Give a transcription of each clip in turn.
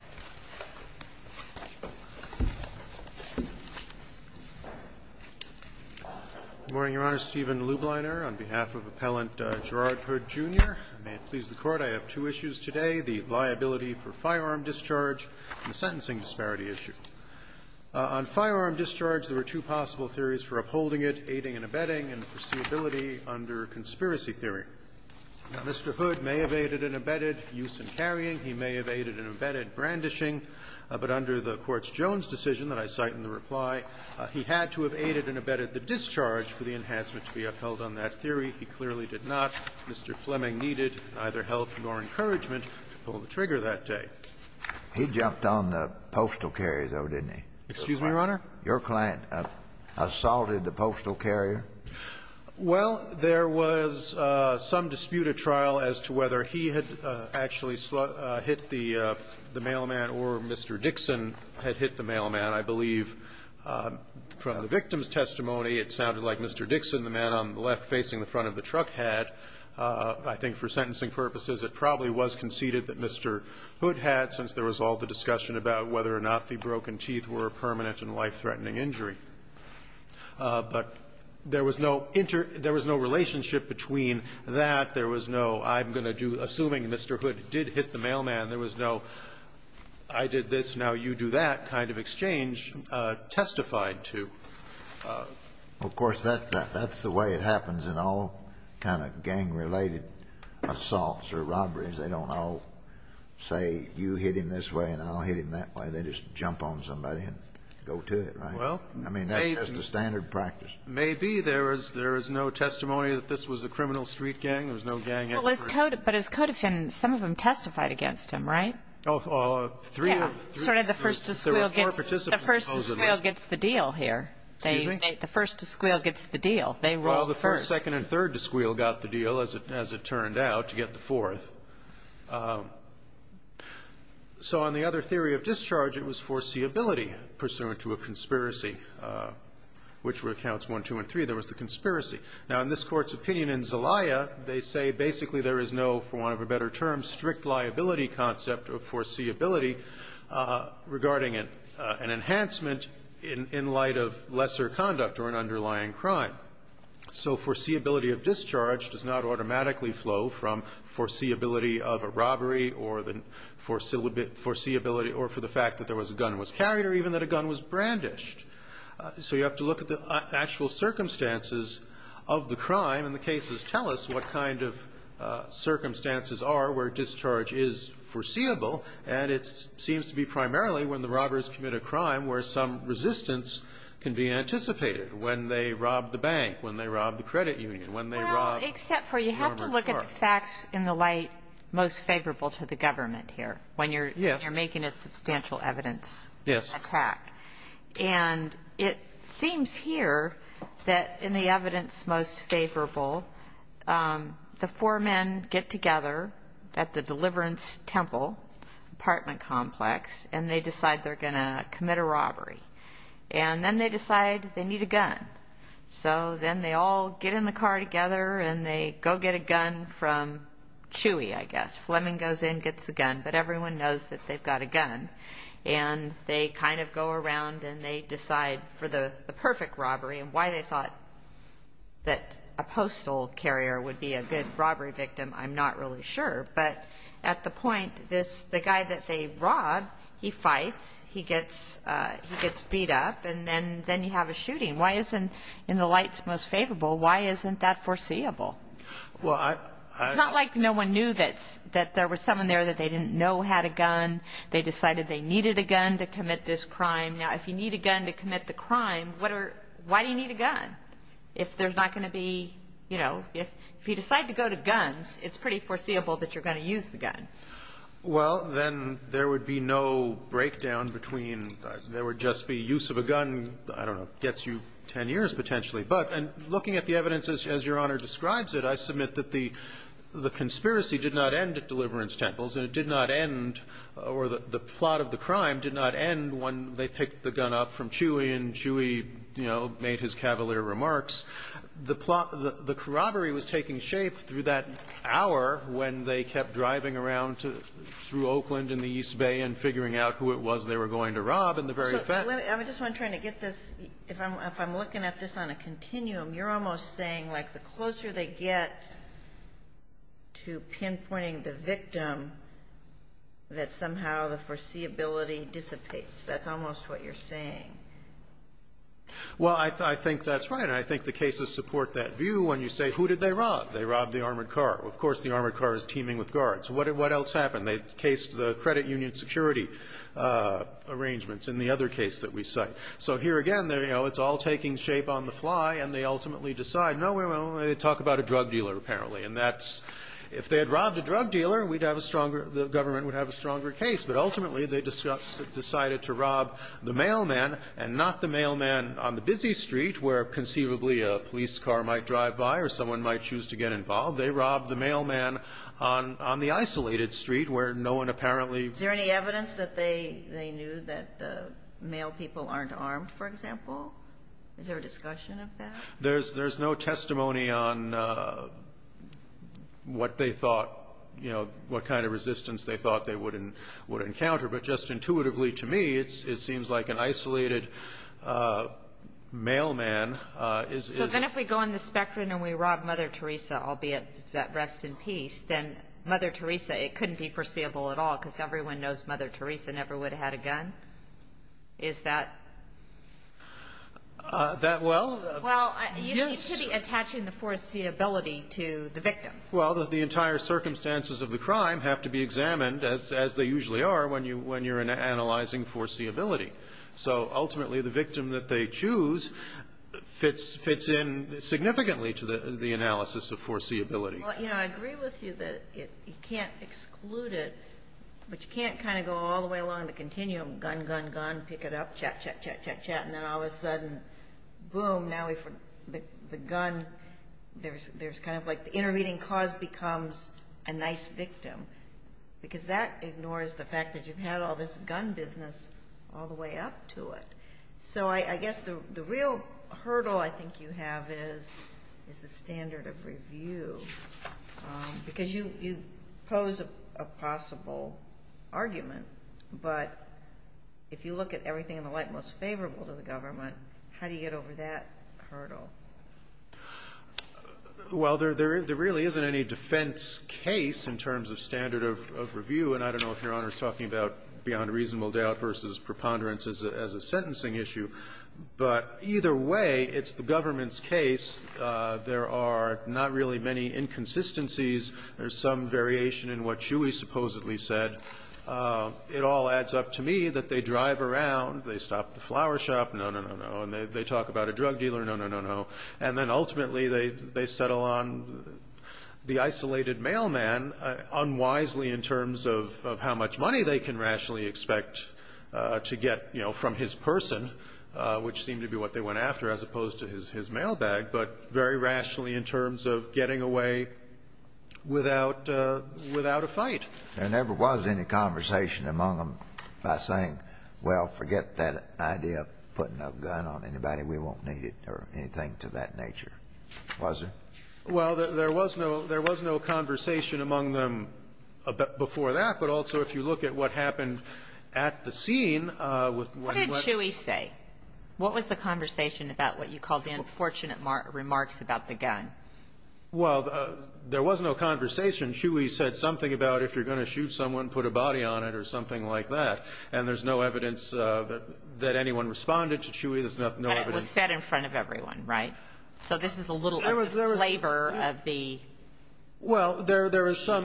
Good morning, Your Honor. Stephen Lubliner on behalf of Appellant Gerard Hood, Jr. May it please the Court, I have two issues today, the liability for firearm discharge and the sentencing disparity issue. On firearm discharge, there were two possible theories for upholding it, aiding and abetting, and foreseeability under conspiracy theory. Mr. Hood may have aided and abetted use and carrying. He may have aided and abetted brandishing. But under the Court's Jones decision that I cite in the reply, he had to have aided and abetted the discharge for the enhancement to be upheld on that theory. He clearly did not. Mr. Fleming needed neither help nor encouragement to pull the trigger that day. He jumped on the postal carrier, though, didn't he? Excuse me, Your Honor? Your client assaulted the postal carrier? Well, there was some dispute at trial as to whether he had actually hit the mailman or Mr. Dixon had hit the mailman. I believe from the victim's testimony, it sounded like Mr. Dixon, the man on the left facing the front of the truck, had. I think for sentencing purposes, it probably was conceded that Mr. Hood had, since there was all the discussion about whether or not the broken teeth were permanent and life-threatening injury. But there was no inter – there was no relationship between that. There was no, I'm going to do, assuming Mr. Hood did hit the mailman, there was no I did this, now you do that kind of exchange testified to. Of course, that's the way it happens in all kind of gang-related assaults or robberies. They don't all say, you hit him this way and I'll hit him that way. They just jump on somebody and go to it, right? Well. I mean, that's just a standard practice. Maybe there is no testimony that this was a criminal street gang. There was no gang expert. But as codefendants, some of them testified against him, right? Oh, three of them. Yeah, sort of the first to squeal gets the deal here. Excuse me? The first to squeal gets the deal. They rolled first. Well, the first, second, and third to squeal got the deal, as it turned out, to get So on the other theory of discharge, it was foreseeability pursuant to a conspiracy. Which recounts 1, 2, and 3. There was the conspiracy. Now, in this Court's opinion in Zelaya, they say basically there is no, for want of a better term, strict liability concept of foreseeability regarding an enhancement in light of lesser conduct or an underlying crime. So foreseeability of discharge does not automatically flow from foreseeability of a robbery or the foreseeability or for the fact that there was a gun was carried or even that a gun was brandished. So you have to look at the actual circumstances of the crime and the cases tell us what kind of circumstances are where discharge is foreseeable. And it seems to be primarily when the robbers commit a crime where some resistance can be anticipated, when they rob the bank, when they rob the credit union, when they rob a car. Well, except for you have to look at the facts in the light most favorable to the government here when you're making a substantial evidence attack. Yes. And it seems here that in the evidence most favorable, the four men get together at the Deliverance Temple apartment complex and they decide they're going to commit a robbery. And then they decide they need a gun. So then they all get in the car together and they go get a gun from Chewy, I guess. Fleming goes in, gets a gun, but everyone knows that they've got a gun. And they kind of go around and they decide for the perfect robbery and why they thought that a postal carrier would be a good robbery victim. I'm not really sure. But at the point, the guy that they rob, he fights, he gets beat up, and then you have a shooting. Why isn't in the light most favorable, why isn't that foreseeable? Well, it's not like no one knew that there was someone there that they didn't know had a gun. They decided they needed a gun to commit this crime. Now, if you need a gun to commit the crime, what are, why do you need a gun if there's not going to be, you know, if you decide to go to guns, it's pretty foreseeable that you're going to use the gun. Well, then there would be no breakdown between, there would just be use of a gun, I don't know, gets you 10 years potentially. But looking at the evidence as Your Honor describes it, I submit that the conspiracy did not end at Deliverance Temples. And it did not end, or the plot of the crime did not end when they picked the gun up from Chewy, and Chewy, you know, made his cavalier remarks. The plot, the corroboree was taking shape through that hour when they kept driving around to, through Oakland and the East Bay and figuring out who it was they were going to rob in the very event. I just want to try to get this, if I'm looking at this on a continuum, you're almost saying, like, the closer they get to pinpointing the victim, that somehow the foreseeability dissipates. That's almost what you're saying. Well, I think that's right. And I think the cases support that view when you say, who did they rob? They robbed the armored car. Of course, the armored car is teeming with guards. What else happened? They cased the credit union security arrangements in the other case that we cite. So here again, you know, it's all taking shape on the fly, and they ultimately decide, no, we're only going to talk about a drug dealer, apparently. And that's, if they had robbed a drug dealer, we'd have a stronger, the government would have a stronger case. But ultimately, they decided to rob the mailman, and not the mailman on the busy street where conceivably a police car might drive by or someone might choose to get involved. They robbed the mailman on the isolated street where no one apparently. Is there any evidence that they knew that the mail people aren't armed, for example? Is there a discussion of that? There's no testimony on what they thought, you know, what kind of resistance they thought they would encounter. But just intuitively to me, it seems like an isolated mailman is. So then if we go on the spectrum and we rob Mother Teresa, albeit that rest in peace, then Mother Teresa, it couldn't be foreseeable at all, because everyone knows Mother Teresa never would have had a gun? Is that? That well? Well, you should be attaching the foreseeability to the victim. Well, the entire circumstances of the crime have to be examined, as they usually are, when you're analyzing foreseeability. So ultimately, the victim that they choose fits in significantly to the analysis of foreseeability. Well, you know, I agree with you that you can't exclude it. But you can't kind of go all the way along the continuum, gun, gun, gun, pick it up, chat, chat, chat, chat, chat, and then all of a sudden, boom, now the gun, there's kind of like the intervening cause becomes a nice victim. Because that ignores the fact that you've had all this gun business all the way up to it. So I guess the real hurdle I think you have is the standard of review. Because you pose a possible argument. But if you look at everything in the light most favorable to the government, how do you get over that hurdle? Well, there really isn't any defense case in terms of standard of review. And I don't know if Your Honor is talking about beyond reasonable doubt versus preponderance as a sentencing issue. But either way, it's the government's case. There are not really many inconsistencies. There's some variation in what Shuey supposedly said. It all adds up to me that they drive around, they stop at the flower shop, no, no, no, no, and they talk about a drug dealer, no, no, no, no. And then ultimately, they settle on the isolated mailman unwisely in terms of how much money they can rationally expect to get, you know, from his person, which seemed to be what they went after, as opposed to his mailbag, but very rationally in terms of getting away without a fight. There never was any conversation among them by saying, well, forget that idea of putting a gun on anybody, we won't need it, or anything to that nature, was there? Well, there was no conversation among them before that, but also if you look at what happened at the scene with what he was What did Shuey say? What was the conversation about what you call the unfortunate remarks about the gun? Well, there was no conversation. Shuey said something about if you're going to shoot someone, put a body on it or something like that. And there's no evidence that anyone responded to Shuey. There's no evidence But it was said in front of everyone, right? So this is a little of the flavor of the adventure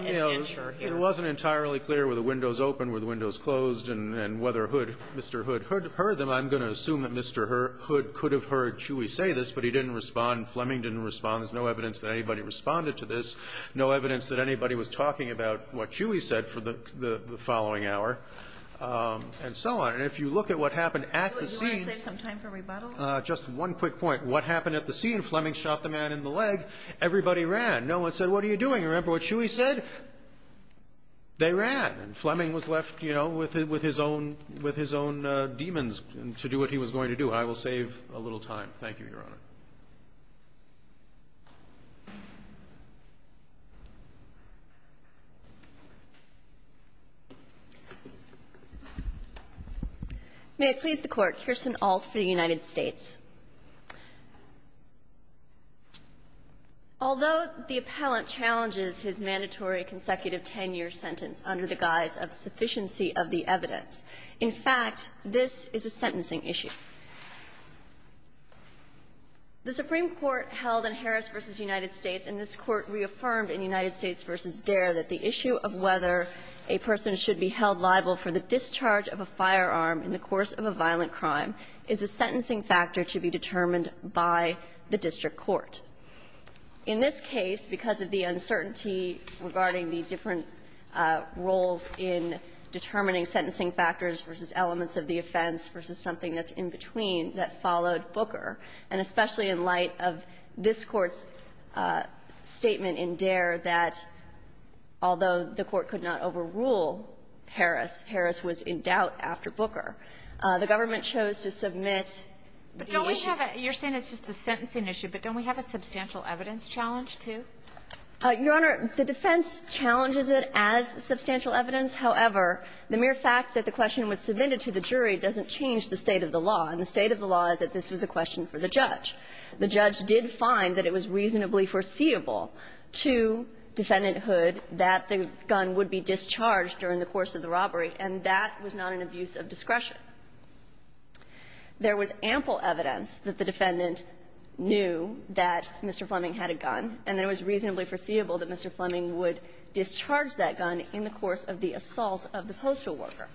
here. Well, it wasn't entirely clear were the windows open, were the windows closed, and whether Hood, Mr. Hood, heard them. I'm going to assume that Mr. Hood could have heard Shuey say this, but he didn't respond. Fleming didn't respond. There's no evidence that anybody responded to this, no evidence that anybody was talking about what Shuey said for the following hour, and so on. And if you look at what happened at the scene Do you want to save some time for rebuttals? Just one quick point. What happened at the scene? Fleming shot the man in the leg. Everybody ran. No one said, what are you doing? Remember what Shuey said? They ran. And Fleming was left, you know, with his own demons to do what he was going to do. I will save a little time. Thank you, Your Honor. May it please the Court. Kirsten Ault for the United States. Although the appellant challenges his mandatory consecutive 10-year sentence under the guise of sufficiency of the evidence, in fact, this is a sentencing issue. The Supreme Court held in Harris v. United States, and this Court reaffirmed in United States v. Dare, that the issue of whether a person should be held liable for the discharge of a firearm in the course of a violent crime is a sentencing factor to be determined by the district court. In this case, because of the uncertainty regarding the different roles in determining sentencing factors versus elements of the offense versus something that's in between, that followed Booker, and especially in light of this Court's statement in Dare that although the Court could not overrule Harris, Harris was in doubt after Booker. The government chose to submit the issue. You're saying it's just a sentencing issue, but don't we have a substantial evidence challenge, too? Your Honor, the defense challenges it as substantial evidence. However, the mere fact that the question was submitted to the jury doesn't change the state of the law. The judge did find that it was reasonably foreseeable to Defendant Hood that the gun would be discharged during the course of the robbery, and that was not an abuse of discretion. There was ample evidence that the defendant knew that Mr. Fleming had a gun, and it was reasonably foreseeable that Mr. Fleming would discharge that gun in the course of the assault of the postal worker.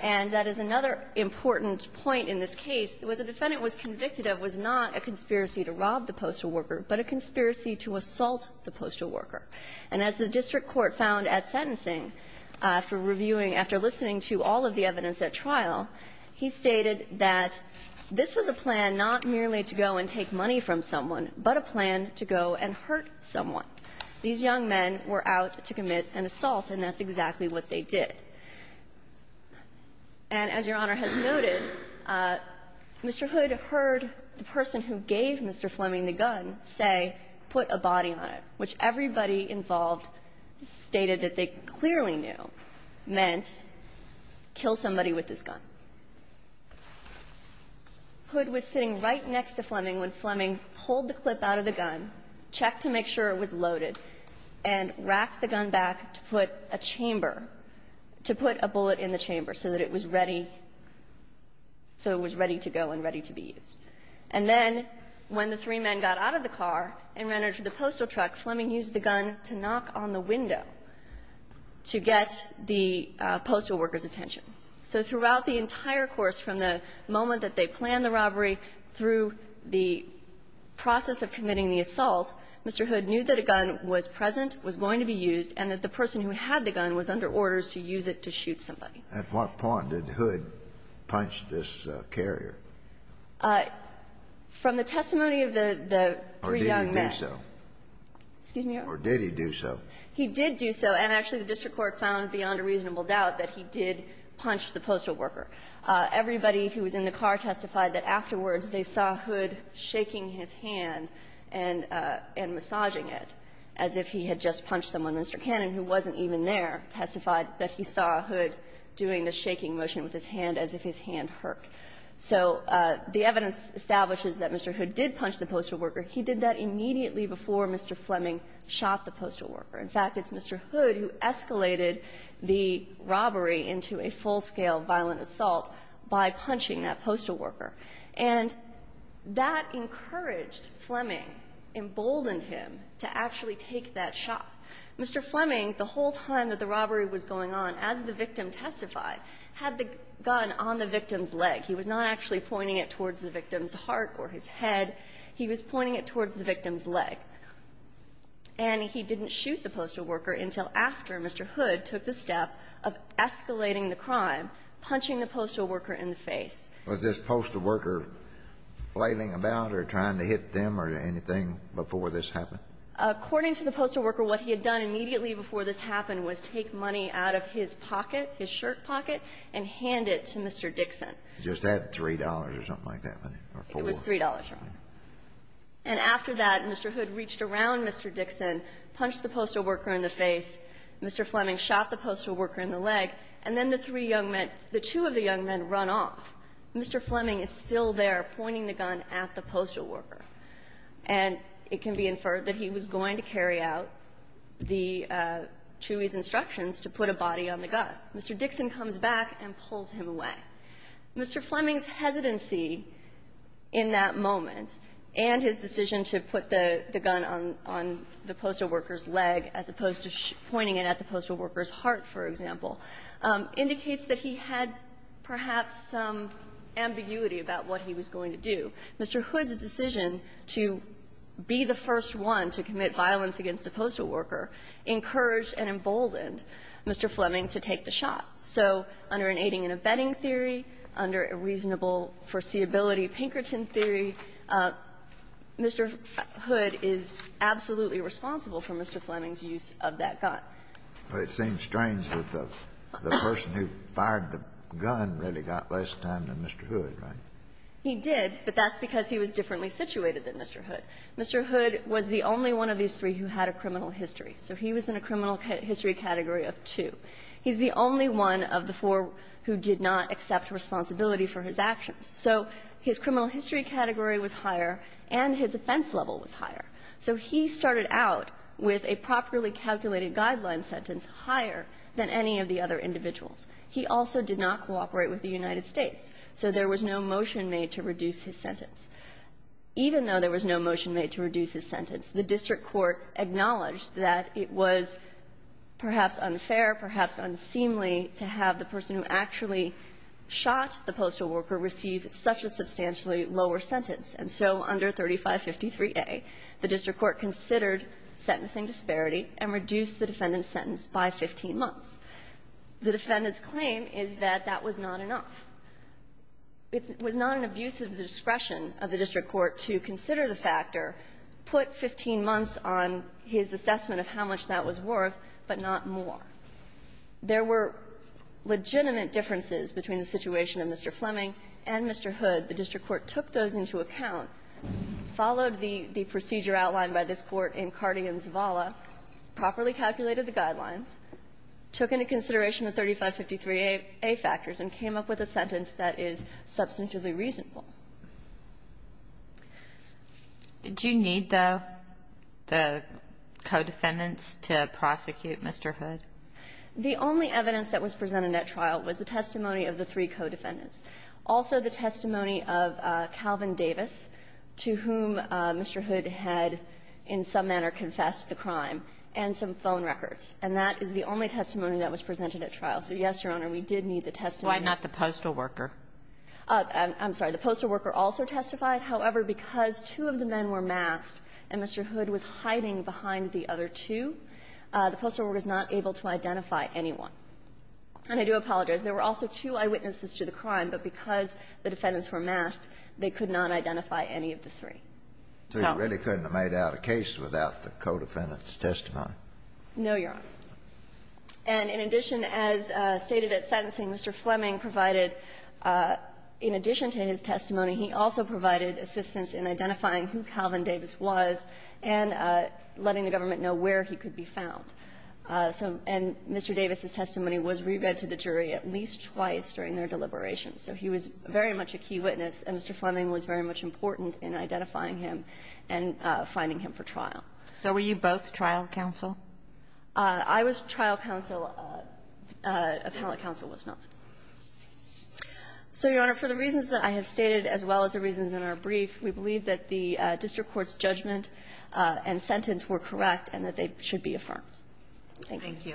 And that is another important point in this case. What the defendant was convicted of was not a conspiracy to rob the postal worker, but a conspiracy to assault the postal worker. And as the district court found at sentencing, after reviewing, after listening to all of the evidence at trial, he stated that this was a plan not merely to go and take money from someone, but a plan to go and hurt someone. These young men were out to commit an assault, and that's exactly what they did. And as Your Honor has noted, Mr. Hood heard the person who gave Mr. Fleming the gun say, put a body on it, which everybody involved stated that they clearly knew meant kill somebody with this gun. Hood was sitting right next to Fleming when Fleming pulled the clip out of the gun, checked to make sure it was loaded, and racked the gun back to put a chamber to put a bullet in the chamber so that it was ready, so it was ready to go and ready to be used. And then when the three men got out of the car and ran into the postal truck, Fleming used the gun to knock on the window to get the postal worker's attention. So throughout the entire course from the moment that they planned the robbery through the process of committing the assault, Mr. Hood knew that a gun was present, was going to be used, and that the person who had the gun was under orders to use it to shoot somebody. At what point did Hood punch this carrier? From the testimony of the three young men. Or did he do so? Excuse me, Your Honor? Or did he do so? He did do so, and actually the district court found beyond a reasonable doubt that he did punch the postal worker. Everybody who was in the car testified that afterwards they saw Hood shaking his hand and massaging it, as if he had just punched someone. Mr. Cannon, who wasn't even there, testified that he saw Hood doing the shaking motion with his hand as if his hand hurked. So the evidence establishes that Mr. Hood did punch the postal worker. He did that immediately before Mr. Fleming shot the postal worker. In fact, it's Mr. Hood who escalated the robbery into a full-scale violent assault by punching that postal worker. And that encouraged Fleming, emboldened him to actually take that shot. Mr. Fleming, the whole time that the robbery was going on, as the victim testified, had the gun on the victim's leg. He was not actually pointing it towards the victim's heart or his head. He was pointing it towards the victim's leg. And he didn't shoot the postal worker until after Mr. Hood took the step of escalating the crime, punching the postal worker in the face. Was this postal worker flailing about or trying to hit them or anything before this happened? According to the postal worker, what he had done immediately before this happened was take money out of his pocket, his shirt pocket, and hand it to Mr. Dixon. Just that $3 or something like that? It was $3. And after that, Mr. Hood reached around Mr. Dixon, punched the postal worker in the face. Mr. Fleming shot the postal worker in the leg. And then the three young men – the two of the young men run off. Mr. Fleming is still there pointing the gun at the postal worker. And it can be inferred that he was going to carry out the Chewy's instructions to put a body on the gun. Mr. Dixon comes back and pulls him away. Mr. Fleming's hesitancy in that moment and his decision to put the gun on the postal worker's leg as opposed to pointing it at the postal worker's heart, for example, indicates that he had perhaps some ambiguity about what he was going to do. Mr. Hood's decision to be the first one to commit violence against a postal worker encouraged and emboldened Mr. Fleming to take the shot. So under an aiding and abetting theory, under a reasonable foreseeability Pinkerton theory, Mr. Hood is absolutely responsible for Mr. Fleming's use of that gun. It seems strange that the person who fired the gun really got less time than Mr. Hood, right? He did, but that's because he was differently situated than Mr. Hood. Mr. Hood was the only one of these three who had a criminal history. So he was in a criminal history category of two. He's the only one of the four who did not accept responsibility for his actions. So he started out with a properly calculated guideline sentence higher than any of the other individuals. He also did not cooperate with the United States. So there was no motion made to reduce his sentence. Even though there was no motion made to reduce his sentence, the district court acknowledged that it was perhaps unfair, perhaps unseemly, to have the person who actually shot the postal worker receive such a substantially lower sentence. And so under 3553A, the district court considered sentencing disparity and reduced the defendant's sentence by 15 months. The defendant's claim is that that was not enough. It was not an abuse of the discretion of the district court to consider the factor, put 15 months on his assessment of how much that was worth, but not more. There were legitimate differences between the situation of Mr. Fleming and Mr. Hood. The district court took those into account, followed the procedure outlined by this Court in Cardi and Zavala, properly calculated the guidelines, took into consideration the 3553A factors, and came up with a sentence that is substantively reasonable. Kagan, did you need, though, the co-defendants to prosecute Mr. Hood? The only evidence that was presented at trial was the testimony of the three co-defendants. Also, the testimony of Calvin Davis, to whom Mr. Hood had in some manner confessed the crime, and some phone records. And that is the only testimony that was presented at trial. So, yes, Your Honor, we did need the testimony. Why not the postal worker? I'm sorry. The postal worker also testified. However, because two of the men were masked and Mr. Hood was hiding behind the other two, the postal worker was not able to identify anyone. And I do apologize. There were also two eyewitnesses to the crime, but because the defendants were masked, they could not identify any of the three. So you really couldn't have made out a case without the co-defendants' testimony? No, Your Honor. And in addition, as stated at sentencing, Mr. Fleming provided, in addition to his testimony, he also provided assistance in identifying who Calvin Davis was and letting the government know where he could be found. So Mr. Davis' testimony was re-read to the jury at least twice during their deliberations. So he was very much a key witness, and Mr. Fleming was very much important in identifying him and finding him for trial. So were you both trial counsel? I was trial counsel. Appellate counsel was not. So, Your Honor, for the reasons that I have stated, as well as the reasons in our brief, we believe that the district court's judgment and sentence were correct and that they should be affirmed. Thank you. Thank you.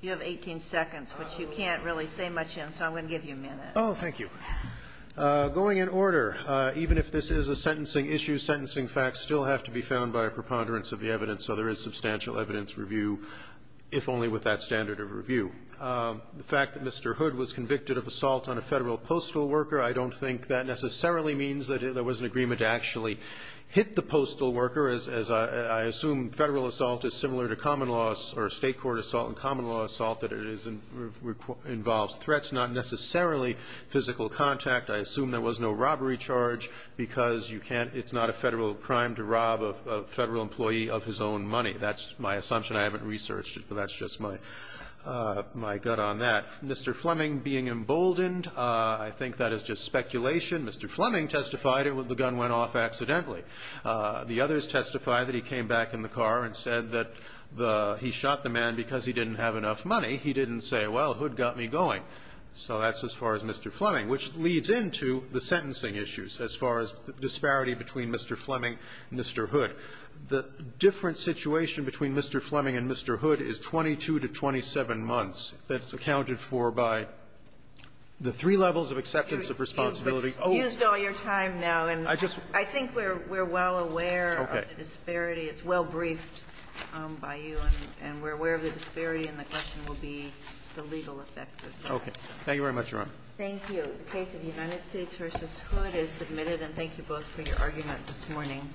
You have 18 seconds, which you can't really say much in, so I'm going to give you a minute. Oh, thank you. Going in order, even if this is a sentencing issue, sentencing facts still have to be found by a preponderance of the evidence, so there is substantial evidence review, if only with that standard of review. The fact that Mr. Hood was convicted of assault on a Federal postal worker, I don't think that necessarily means that there was an agreement to actually hit the postal worker, as I assume Federal assault is similar to common law or State court assault and common law assault, that it is and involves threats, not necessarily physical contact. I assume there was no robbery charge because you can't – it's not a Federal crime to rob a Federal employee of his own money. That's my assumption. I haven't researched it, but that's just my gut on that. Mr. Fleming being emboldened, I think that is just speculation. Mr. Fleming testified the gun went off accidentally. The others testify that he came back in the car and said that the – he shot the man because he didn't have enough money. He didn't say, well, Hood got me going. So that's as far as Mr. Fleming, which leads into the sentencing issues as far as the disparity between Mr. Fleming and Mr. Hood. The different situation between Mr. Fleming and Mr. Hood is 22 to 27 months. That's accounted for by the three levels of acceptance of responsibility. Oh. Ginsburg. You've used all your time now, and I think we're well aware of the disparity. It's well briefed by you, and we're aware of the disparity, and the question will be the legal effect of that. Okay. Thank you very much, Your Honor. Thank you. The case of the United States v. Hood is submitted, and thank you both for your argument this morning.